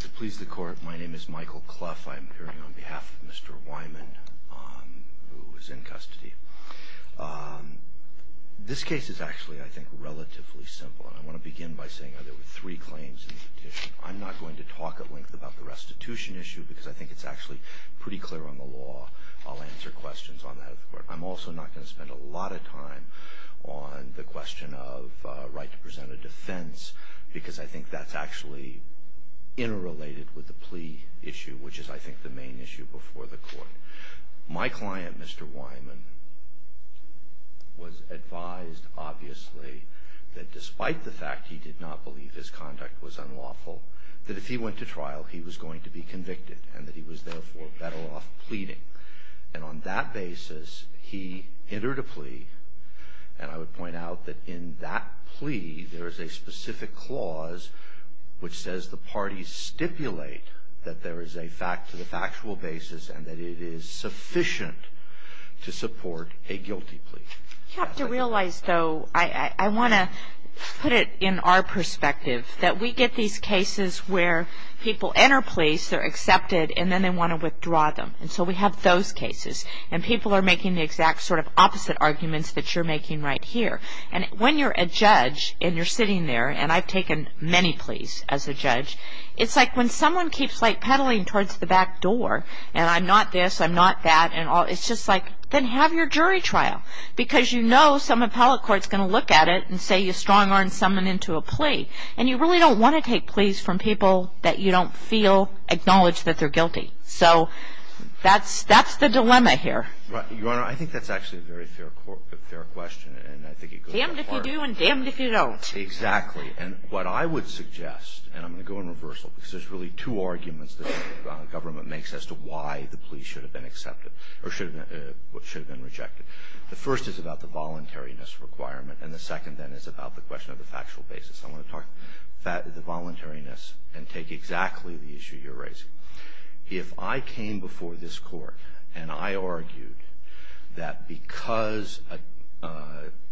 To please the court, my name is Michael Clough. I'm appearing on behalf of Mr. Wyman, who is in custody. This case is actually, I think, relatively simple. I want to begin by saying that there were three claims in the petition. I'm not going to talk at length about the restitution issue because I think it's actually pretty clear on the law. I'll answer questions on that at the court. I'm also not going to spend a lot of time on the question of right to present a defense because I think that's actually interrelated with the plea issue, which is, I think, the main issue before the court. My client, Mr. Wyman, was advised, obviously, that despite the fact he did not believe his conduct was unlawful, that if he went to trial, he was going to be convicted and that he was, therefore, better off pleading. And on that basis, he entered a plea, and I would point out that in that plea, there is a specific clause, which says the parties stipulate that there is a factual basis and that it is sufficient to support a guilty plea. You have to realize, though, I want to put it in our perspective, that we get these cases where people enter pleas, they're accepted, and then they want to withdraw them. And so we have those cases. And people are making the exact sort of opposite arguments that you're making right here. And when you're a judge and you're sitting there, and I've taken many pleas as a judge, it's like when someone keeps, like, peddling towards the back door, and I'm not this, I'm not that, and all, it's just like, then have your jury trial because you know some appellate court's going to look at it and say you strong-armed someone into a plea. And you really don't want to take pleas from people that you don't feel acknowledge that they're guilty. So that's the dilemma here. Right. Your Honor, I think that's actually a very fair question. And I think it goes without saying. Damned if you do and damned if you don't. Exactly. And what I would suggest, and I'm going to go in reversal because there's really two arguments that the government makes as to why the plea should have been accepted or should have been rejected. The first is about the voluntariness requirement, and the second, then, is about the question of the factual basis. I want to talk about the voluntariness and take exactly the issue you're raising. If I came before this court and I argued that because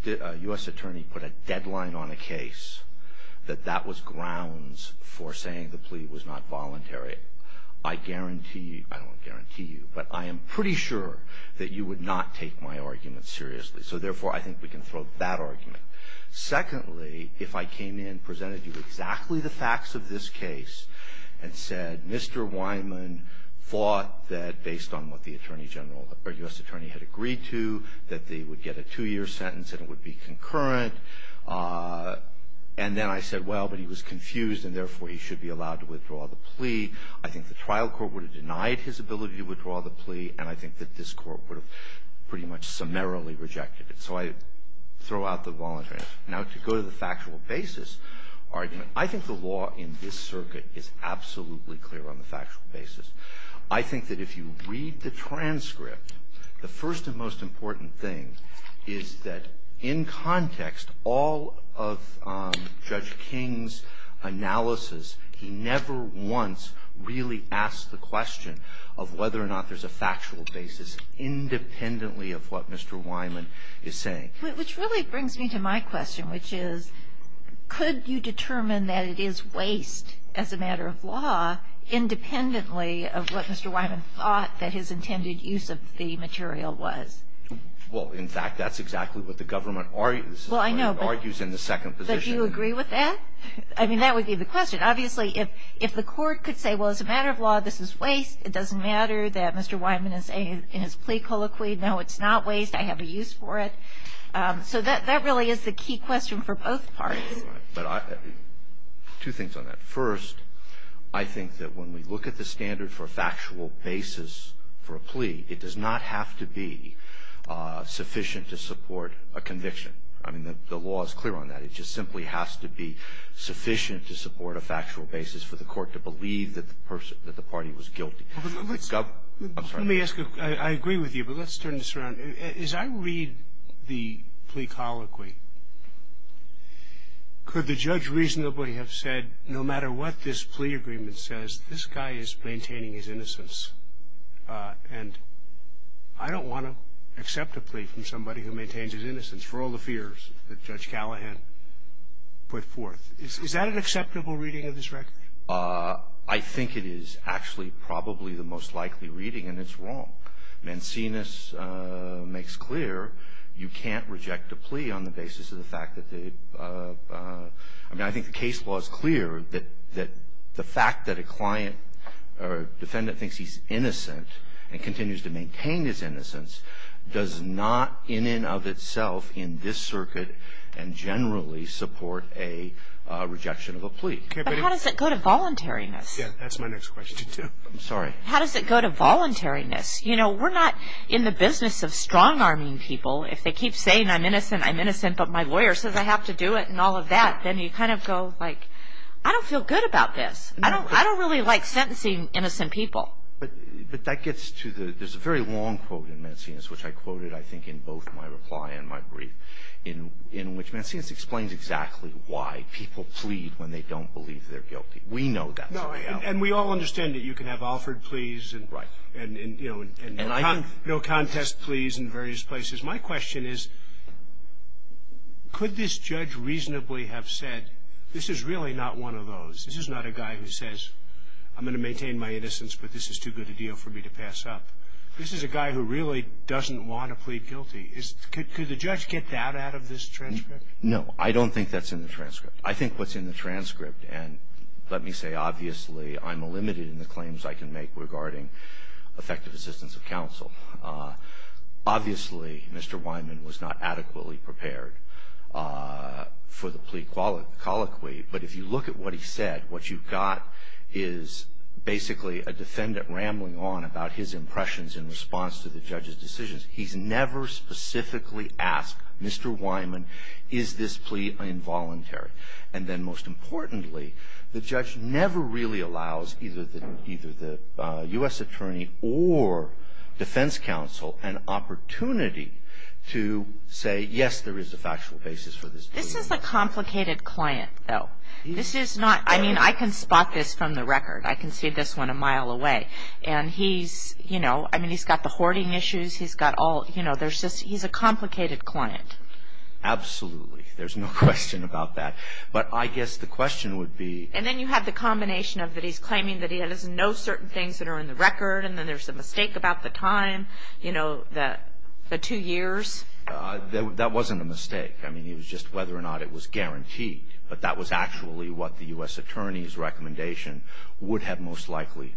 a U.S. attorney put a deadline on a case, that that was grounds for saying the plea was not voluntary, I guarantee you, I don't guarantee you, but I am pretty sure that you would not take my argument seriously. So, therefore, I think we can throw that argument. Secondly, if I came in and presented you exactly the facts of this case and said, Mr. Weinman thought that, based on what the attorney general or U.S. attorney had agreed to, that they would get a two-year sentence and it would be concurrent, and then I said, well, but he was confused, and, therefore, he should be allowed to withdraw the plea, I think the trial court would have denied his ability to withdraw the plea, and I think that this court would have pretty much summarily rejected it. So I throw out the voluntariness. Now, to go to the factual basis argument, I think the law in this circuit is absolutely clear on the factual basis. I think that if you read the transcript, the first and most important thing is that, in context, all of Judge King's analysis, he never once really asked the question of whether or not there's a factual basis independently of what Mr. Weinman is saying. Kagan. Which really brings me to my question, which is, could you determine that it is waste as a matter of law independently of what Mr. Weinman thought that his intended use of the material was? Well, in fact, that's exactly what the government argues. Well, I know. This is what it argues in the second position. But do you agree with that? I mean, that would be the question. Obviously, if the court could say, well, as a matter of law, this is waste, it doesn't matter that Mr. Weinman is saying in his plea colloquy, no, it's not waste, I have a use for it. So that really is the key question for both parties. But I – two things on that. First, I think that when we look at the standard for factual basis for a plea, it does not have to be sufficient to support a conviction. I mean, the law is clear on that. It just simply has to be sufficient to support a factual basis for the court to believe that the party was guilty. I'm sorry. Let me ask you. I agree with you. But let's turn this around. As I read the plea colloquy, could the judge reasonably have said no matter what this plea agreement says, this guy is maintaining his innocence. And I don't want to accept a plea from somebody who maintains his innocence for all the fears that Judge Callahan put forth. Is that an acceptable reading of this record? I think it is actually probably the most likely reading, and it's wrong. Mancinius makes clear you can't reject a plea on the basis of the fact that the – I mean, I think the case law is clear that the fact that a client or defendant thinks he's innocent and continues to maintain his innocence does not in and of itself in this circuit and generally support a rejection of a plea. But how does it go to voluntariness? Yeah. That's my next question, too. I'm sorry. How does it go to voluntariness? You know, we're not in the business of strong-arming people. If they keep saying I'm innocent, I'm innocent, but my lawyer says I have to do it and all of that, then you kind of go, like, I don't feel good about this. I don't really like sentencing innocent people. But that gets to the – there's a very long quote in Mancinius, which I quoted, I think, in both my reply and my brief, in which Mancinius explains exactly why people plead when they don't believe they're guilty. We know that's what they are. No, and we all understand that you can have offered pleas and, you know, no contest pleas in various places. My question is, could this judge reasonably have said, this is really not one of those. This is not a guy who says, I'm going to maintain my innocence, but this is too good a deal for me to pass up. This is a guy who really doesn't want to plead guilty. Could the judge get that out of this transcript? No, I don't think that's in the transcript. I think what's in the transcript – and let me say, obviously, I'm limited in the claims I can make regarding effective assistance of counsel. Obviously, Mr. Wyman was not adequately prepared for the plea colloquy, but if you look at what he said, what you've got is basically a defendant rambling on about his impressions in response to the judge's decisions. He's never specifically asked, Mr. Wyman, is this plea involuntary? And then most importantly, the judge never really allows either the U.S. attorney or defense counsel an opportunity to say, yes, there is a factual basis for this plea. This is a complicated client, though. This is not – I mean, I can spot this from the record. I can see this one a mile away. And he's – you know, I mean, he's got the hoarding issues. He's got all – you know, there's just – he's a complicated client. Absolutely. There's no question about that. But I guess the question would be – And then you have the combination of that he's claiming that he doesn't know certain things that are in the record, and then there's a mistake about the time, you know, the two years. That wasn't a mistake. I mean, it was just whether or not it was guaranteed. But that was actually what the U.S. attorney's recommendation would have most likely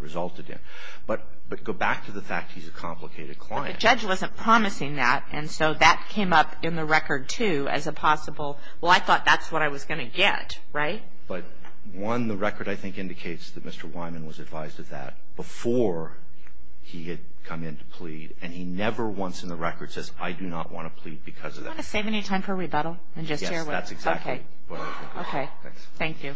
resulted in. But go back to the fact he's a complicated client. But the judge wasn't promising that, and so that came up in the record, too, as a possible – well, I thought that's what I was going to get, right? But, one, the record, I think, indicates that Mr. Wyman was advised of that before he had come in to plead, and he never once in the record says, I do not want to plead because of that. Do you want to save any time for rebuttal and just share with us? Yes, that's exactly what I was looking for. Okay. Thank you.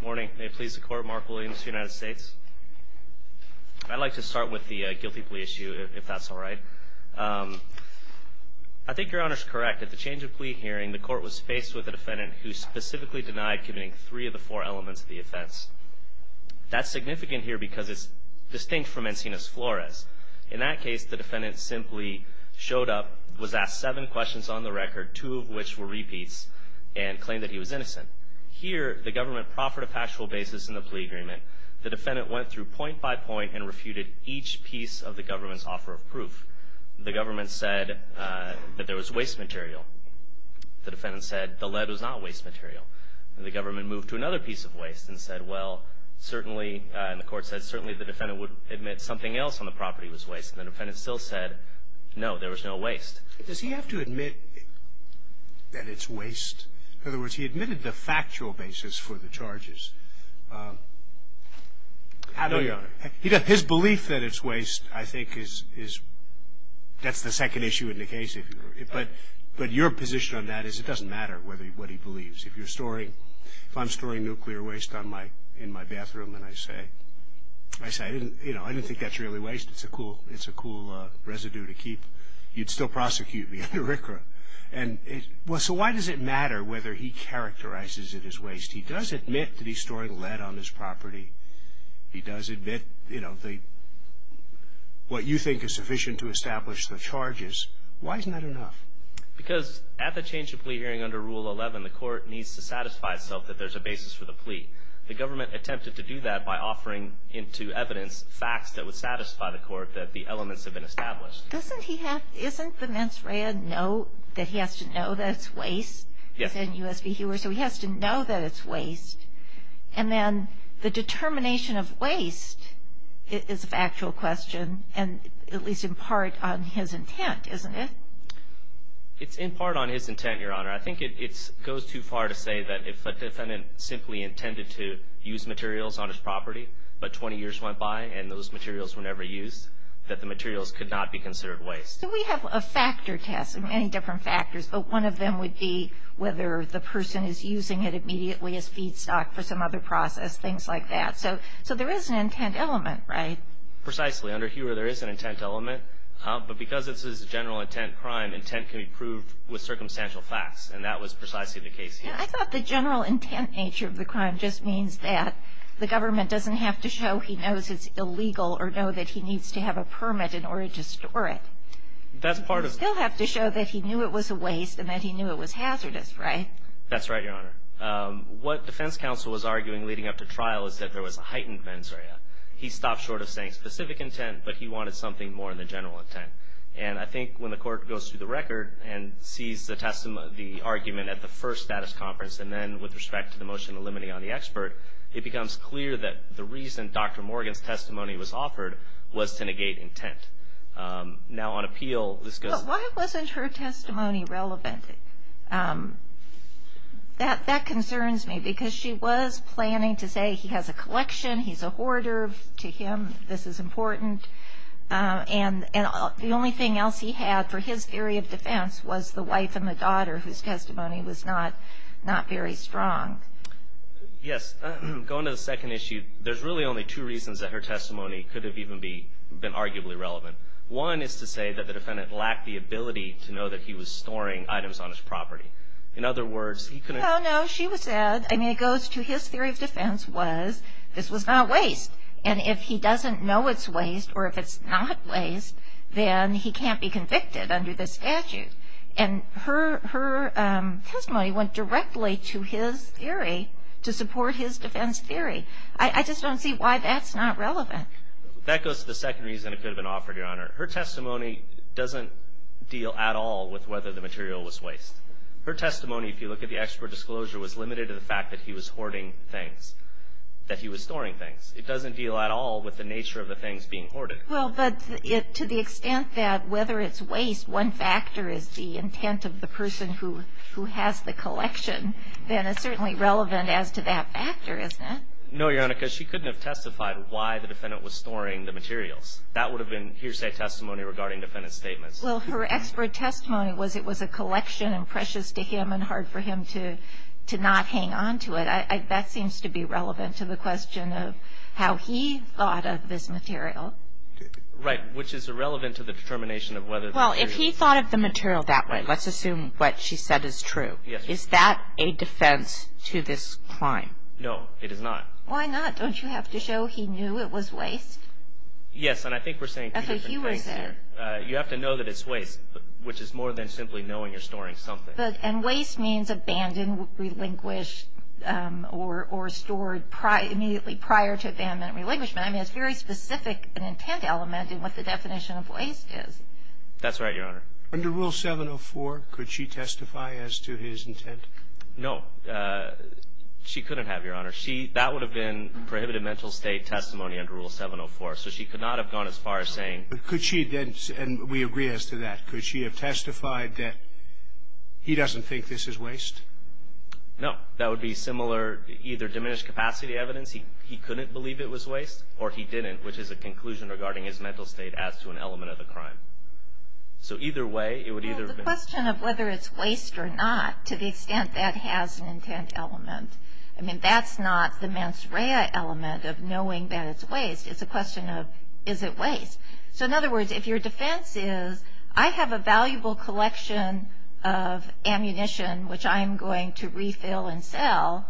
Good morning. May it please the Court, Mark Williams, United States. I'd like to start with the guilty plea issue, if that's all right. I think Your Honor's correct. At the change of plea hearing, the Court was faced with a defendant who specifically denied committing three of the four elements of the offense. That's significant here because it's distinct from Encinas Flores. In that case, the defendant simply showed up, was asked seven questions on the record, two of which were repeats, and claimed that he was innocent. Here, the government proffered a factual basis in the plea agreement. The defendant went through point by point and refuted each piece of the government's offer of proof. The government said that there was waste material. The defendant said the lead was not waste material. And the government moved to another piece of waste and said, well, certainly, and the Court said certainly the defendant would admit something else on the property was waste. And the defendant still said, no, there was no waste. Does he have to admit that it's waste? In other words, he admitted the factual basis for the charges. No, Your Honor. His belief that it's waste, I think, is the second issue in the case. But your position on that is it doesn't matter what he believes. If I'm storing nuclear waste in my bathroom and I say, I didn't think that's really waste. It's a cool residue to keep. You'd still prosecute me under RCRA. So why does it matter whether he characterizes it as waste? He does admit that he's storing lead on his property. He does admit what you think is sufficient to establish the charges. Why isn't that enough? Because at the change of plea hearing under Rule 11, the Court needs to satisfy itself that there's a basis for the plea. The government attempted to do that by offering into evidence facts that would satisfy the Court that the elements have been established. Isn't the mens rea that he has to know that it's waste? Yes. So he has to know that it's waste. And then the determination of waste is a factual question, and at least in part on his intent, isn't it? It's in part on his intent, Your Honor. I think it goes too far to say that if a defendant simply intended to use materials on his property, but 20 years went by and those materials were never used, that the materials could not be considered waste. So we have a factor test of many different factors, but one of them would be whether the person is using it immediately as feedstock for some other process, things like that. So there is an intent element, right? Precisely. Under Hewer, there is an intent element. But because this is a general intent crime, intent can be proved with circumstantial facts, and that was precisely the case here. I thought the general intent nature of the crime just means that the government doesn't have to show he knows it's illegal or know that he needs to have a permit in order to store it. That's part of it. He'll have to show that he knew it was a waste and that he knew it was hazardous, right? That's right, Your Honor. What defense counsel was arguing leading up to trial is that there was a heightened mens rea. He stopped short of saying specific intent, but he wanted something more than general intent. And I think when the court goes through the record and sees the argument at the first status conference and then with respect to the motion eliminating on the expert, it becomes clear that the reason Dr. Morgan's testimony was offered was to negate intent. Now on appeal, this goes to the court. Why wasn't her testimony relevant? That concerns me because she was planning to say he has a collection, he's a hoarder, to him this is important, and the only thing else he had for his theory of defense was the wife and the daughter whose testimony was not very strong. Yes. Going to the second issue, there's really only two reasons that her testimony could have even been arguably relevant. One is to say that the defendant lacked the ability to know that he was storing items on his property. In other words, he couldn't. No, no. She said, I mean, it goes to his theory of defense was this was not waste. And if he doesn't know it's waste or if it's not waste, then he can't be convicted under this statute. And her testimony went directly to his theory to support his defense theory. I just don't see why that's not relevant. That goes to the second reason it could have been offered, Your Honor. Her testimony doesn't deal at all with whether the material was waste. Her testimony, if you look at the extra disclosure, was limited to the fact that he was hoarding things, that he was storing things. It doesn't deal at all with the nature of the things being hoarded. Well, but to the extent that whether it's waste, one factor is the intent of the person who has the collection, then it's certainly relevant as to that factor, isn't it? No, Your Honor, because she couldn't have testified why the defendant was storing the materials. That would have been hearsay testimony regarding defendant's statements. Well, her expert testimony was it was a collection and precious to him and hard for him to not hang on to it. That seems to be relevant to the question of how he thought of this material. Right. Which is irrelevant to the determination of whether the material was waste. Well, if he thought of the material that way, let's assume what she said is true. Yes. Is that a defense to this crime? No, it is not. Why not? Don't you have to show he knew it was waste? Yes. And I think we're saying two different things here. You have to know that it's waste, which is more than simply knowing you're storing something. And waste means abandoned, relinquished, or stored immediately prior to abandonment and relinquishment. I mean, it's a very specific intent element in what the definition of waste is. That's right, Your Honor. Under Rule 704, could she testify as to his intent? No. She couldn't have, Your Honor. She – that would have been prohibited mental state testimony under Rule 704. So she could not have gone as far as saying – But could she then – and we agree as to that. Could she have testified that he doesn't think this is waste? No. That would be similar – either diminished capacity evidence, he couldn't believe it was waste, or he didn't, which is a conclusion regarding his mental state as to an element of the crime. So either way, it would either have been – It's a question of whether it's waste or not to the extent that has an intent element. I mean, that's not the mens rea element of knowing that it's waste. It's a question of, is it waste? So in other words, if your defense is, I have a valuable collection of ammunition, which I am going to refill and sell,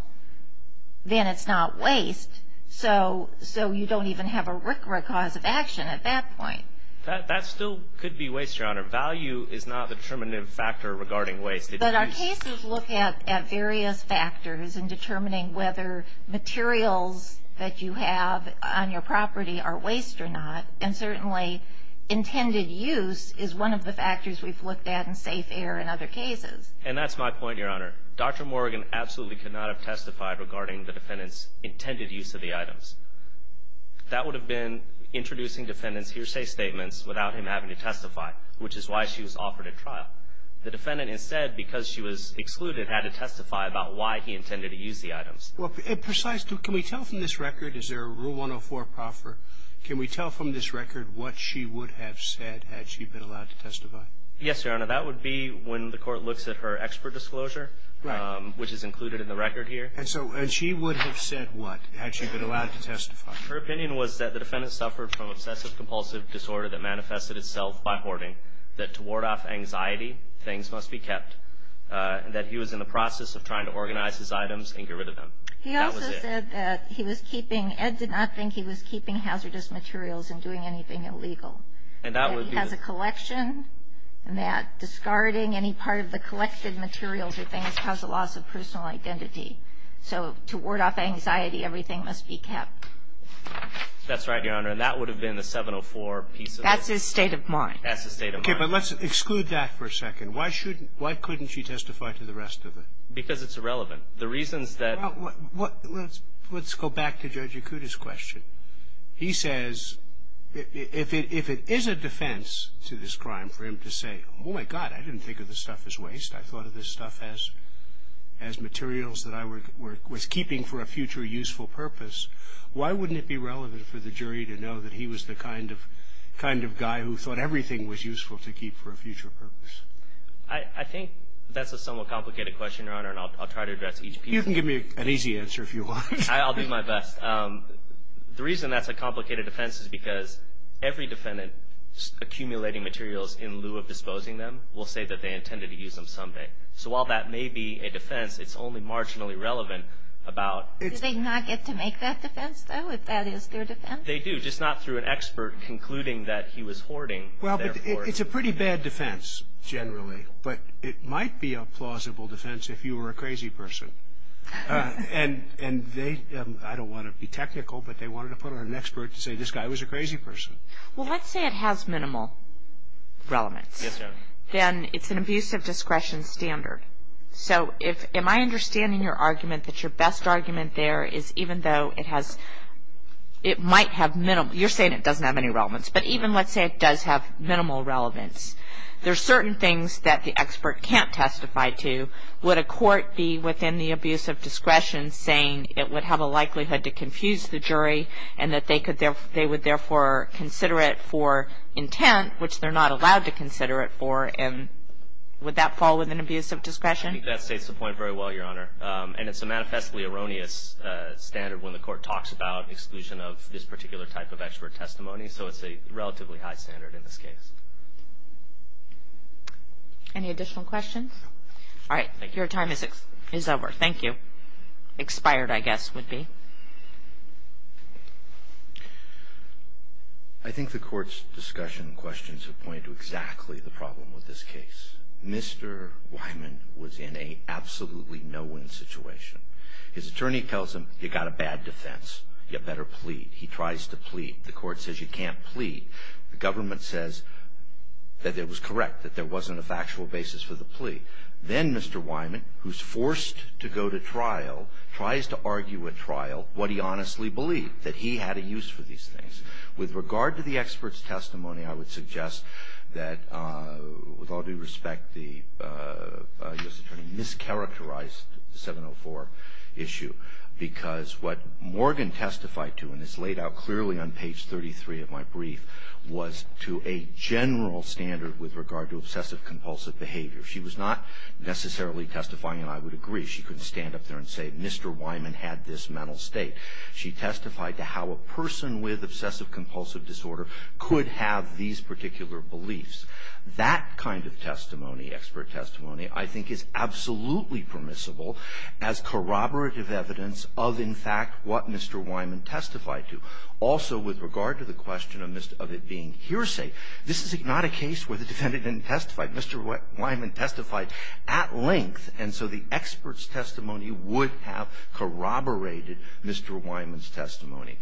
then it's not waste. So you don't even have a rick-rack cause of action at that point. That still could be waste, Your Honor. Value is not the determinative factor regarding waste. But our cases look at various factors in determining whether materials that you have on your property are waste or not, and certainly intended use is one of the factors we've looked at in safe air in other cases. And that's my point, Your Honor. Dr. Morgan absolutely could not have testified regarding the defendant's intended use of the items. That would have been introducing defendant's hearsay statements without him having to testify, which is why she was offered at trial. The defendant instead, because she was excluded, had to testify about why he intended to use the items. Well, precise too. Can we tell from this record? Is there a Rule 104 proffer? Can we tell from this record what she would have said had she been allowed to testify? Yes, Your Honor. That would be when the Court looks at her expert disclosure, which is included in the record here. And so she would have said what had she been allowed to testify? Her opinion was that the defendant suffered from obsessive-compulsive disorder that manifested itself by hoarding, that to ward off anxiety, things must be kept, and that he was in the process of trying to organize his items and get rid of them. That was it. He also said that he was keeping – Ed did not think he was keeping hazardous materials and doing anything illegal. And that would be the – That he has a collection, and that discarding any part of the collected materials or things caused a loss of personal identity. So to ward off anxiety, everything must be kept. That's right, Your Honor. And that would have been the 704 piece of it. That's his state of mind. That's his state of mind. Okay. But let's exclude that for a second. Why shouldn't – why couldn't she testify to the rest of it? Because it's irrelevant. The reasons that – Well, let's go back to Judge Yakuta's question. He says if it is a defense to this crime for him to say, oh, my God, I didn't think of this stuff as waste. I thought of this stuff as materials that I was keeping for a future useful purpose. Why wouldn't it be relevant for the jury to know that he was the kind of guy who thought everything was useful to keep for a future purpose? I think that's a somewhat complicated question, Your Honor, and I'll try to address each piece. You can give me an easy answer if you want. I'll do my best. The reason that's a complicated defense is because every defendant accumulating materials in lieu of disposing them will say that they intended to use them someday. So while that may be a defense, it's only marginally relevant about – Do they not get to make that defense, though, if that is their defense? They do, just not through an expert concluding that he was hoarding. Well, but it's a pretty bad defense generally, but it might be a plausible defense if you were a crazy person. And they – I don't want to be technical, but they wanted to put on an expert to say this guy was a crazy person. Well, let's say it has minimal relevance. Yes, Your Honor. Then it's an abuse of discretion standard. So if – am I understanding your argument that your best argument there is even though it has – it might have minimal – you're saying it doesn't have any relevance, but even let's say it does have minimal relevance, there are certain things that the expert can't testify to. Would a court be within the abuse of discretion saying it would have a likelihood to confuse the jury and that they would therefore consider it for intent, which they're not allowed to consider it for, and would that fall within abuse of discretion? I think that states the point very well, Your Honor. And it's a manifestly erroneous standard when the court talks about exclusion of this particular type of expert testimony, so it's a relatively high standard in this case. Any additional questions? All right. Thank you. Your time is over. Thank you. Expired, I guess, would be. I think the court's discussion questions have pointed to exactly the problem with this case. Mr. Wyman was in an absolutely no-win situation. His attorney tells him, you got a bad defense, you better plead. He tries to plead. The court says you can't plead. The government says that it was correct, that there wasn't a factual basis for the plea. Then Mr. Wyman, who's forced to go to trial, tries to argue at trial what he honestly believed, that he had a use for these things. With regard to the expert's testimony, I would suggest that, with all due respect, the U.S. attorney mischaracterized the 704 issue because what Morgan testified to, and it's laid out clearly on page 33 of my brief, was to a general standard with regard to obsessive-compulsive behavior. She was not necessarily testifying, and I would agree. She couldn't stand up there and say, Mr. Wyman had this mental state. She testified to how a person with obsessive-compulsive disorder could have these particular beliefs. That kind of testimony, expert testimony, I think is absolutely permissible as corroborative evidence of, in fact, what Mr. Wyman testified to. Also, with regard to the question of it being hearsay, this is not a case where the defendant didn't testify. Mr. Wyman testified at length. And so the expert's testimony would have corroborated Mr. Wyman's testimony.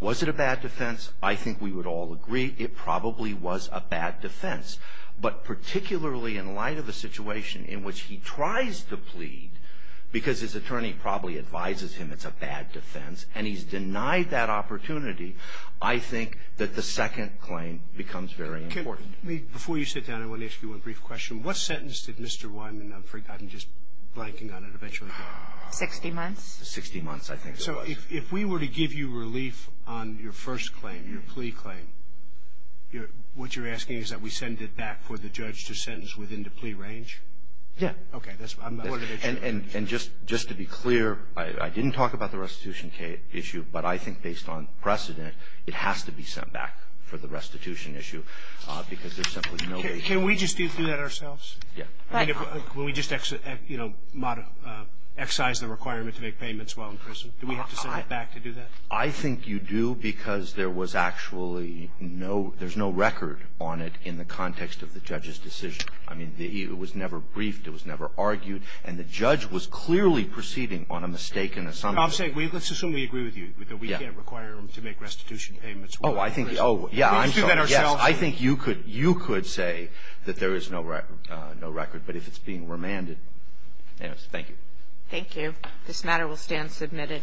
Was it a bad defense? I think we would all agree it probably was a bad defense. But particularly in light of the situation in which he tries to plead because his attorney probably advises him it's a bad defense, and he's denied that opportunity, I think that the second claim becomes very important. Before you sit down, I want to ask you one brief question. What sentence did Mr. Wyman, I'm just blanking on it, eventually get? Sixty months. Sixty months, I think it was. So if we were to give you relief on your first claim, your plea claim, what you're asking is that we send it back for the judge to sentence within the plea range? Yeah. Okay. And just to be clear, I didn't talk about the restitution issue. But I think based on precedent, it has to be sent back for the restitution issue because there's simply no relief. Can we just do that ourselves? Yeah. When we just, you know, excise the requirement to make payments while in prison, do we have to send it back to do that? I think you do because there was actually no record on it in the context of the judge's decision. I mean, it was never briefed. It was never argued. And the judge was clearly proceeding on a mistake in the summary. I'm saying let's assume we agree with you that we can't require him to make restitution payments while in prison. Oh, yeah, I'm sorry. Can we just do that ourselves? Yes. I think you could say that there is no record, but if it's being remanded. Thank you. Thank you. This matter will stand submitted.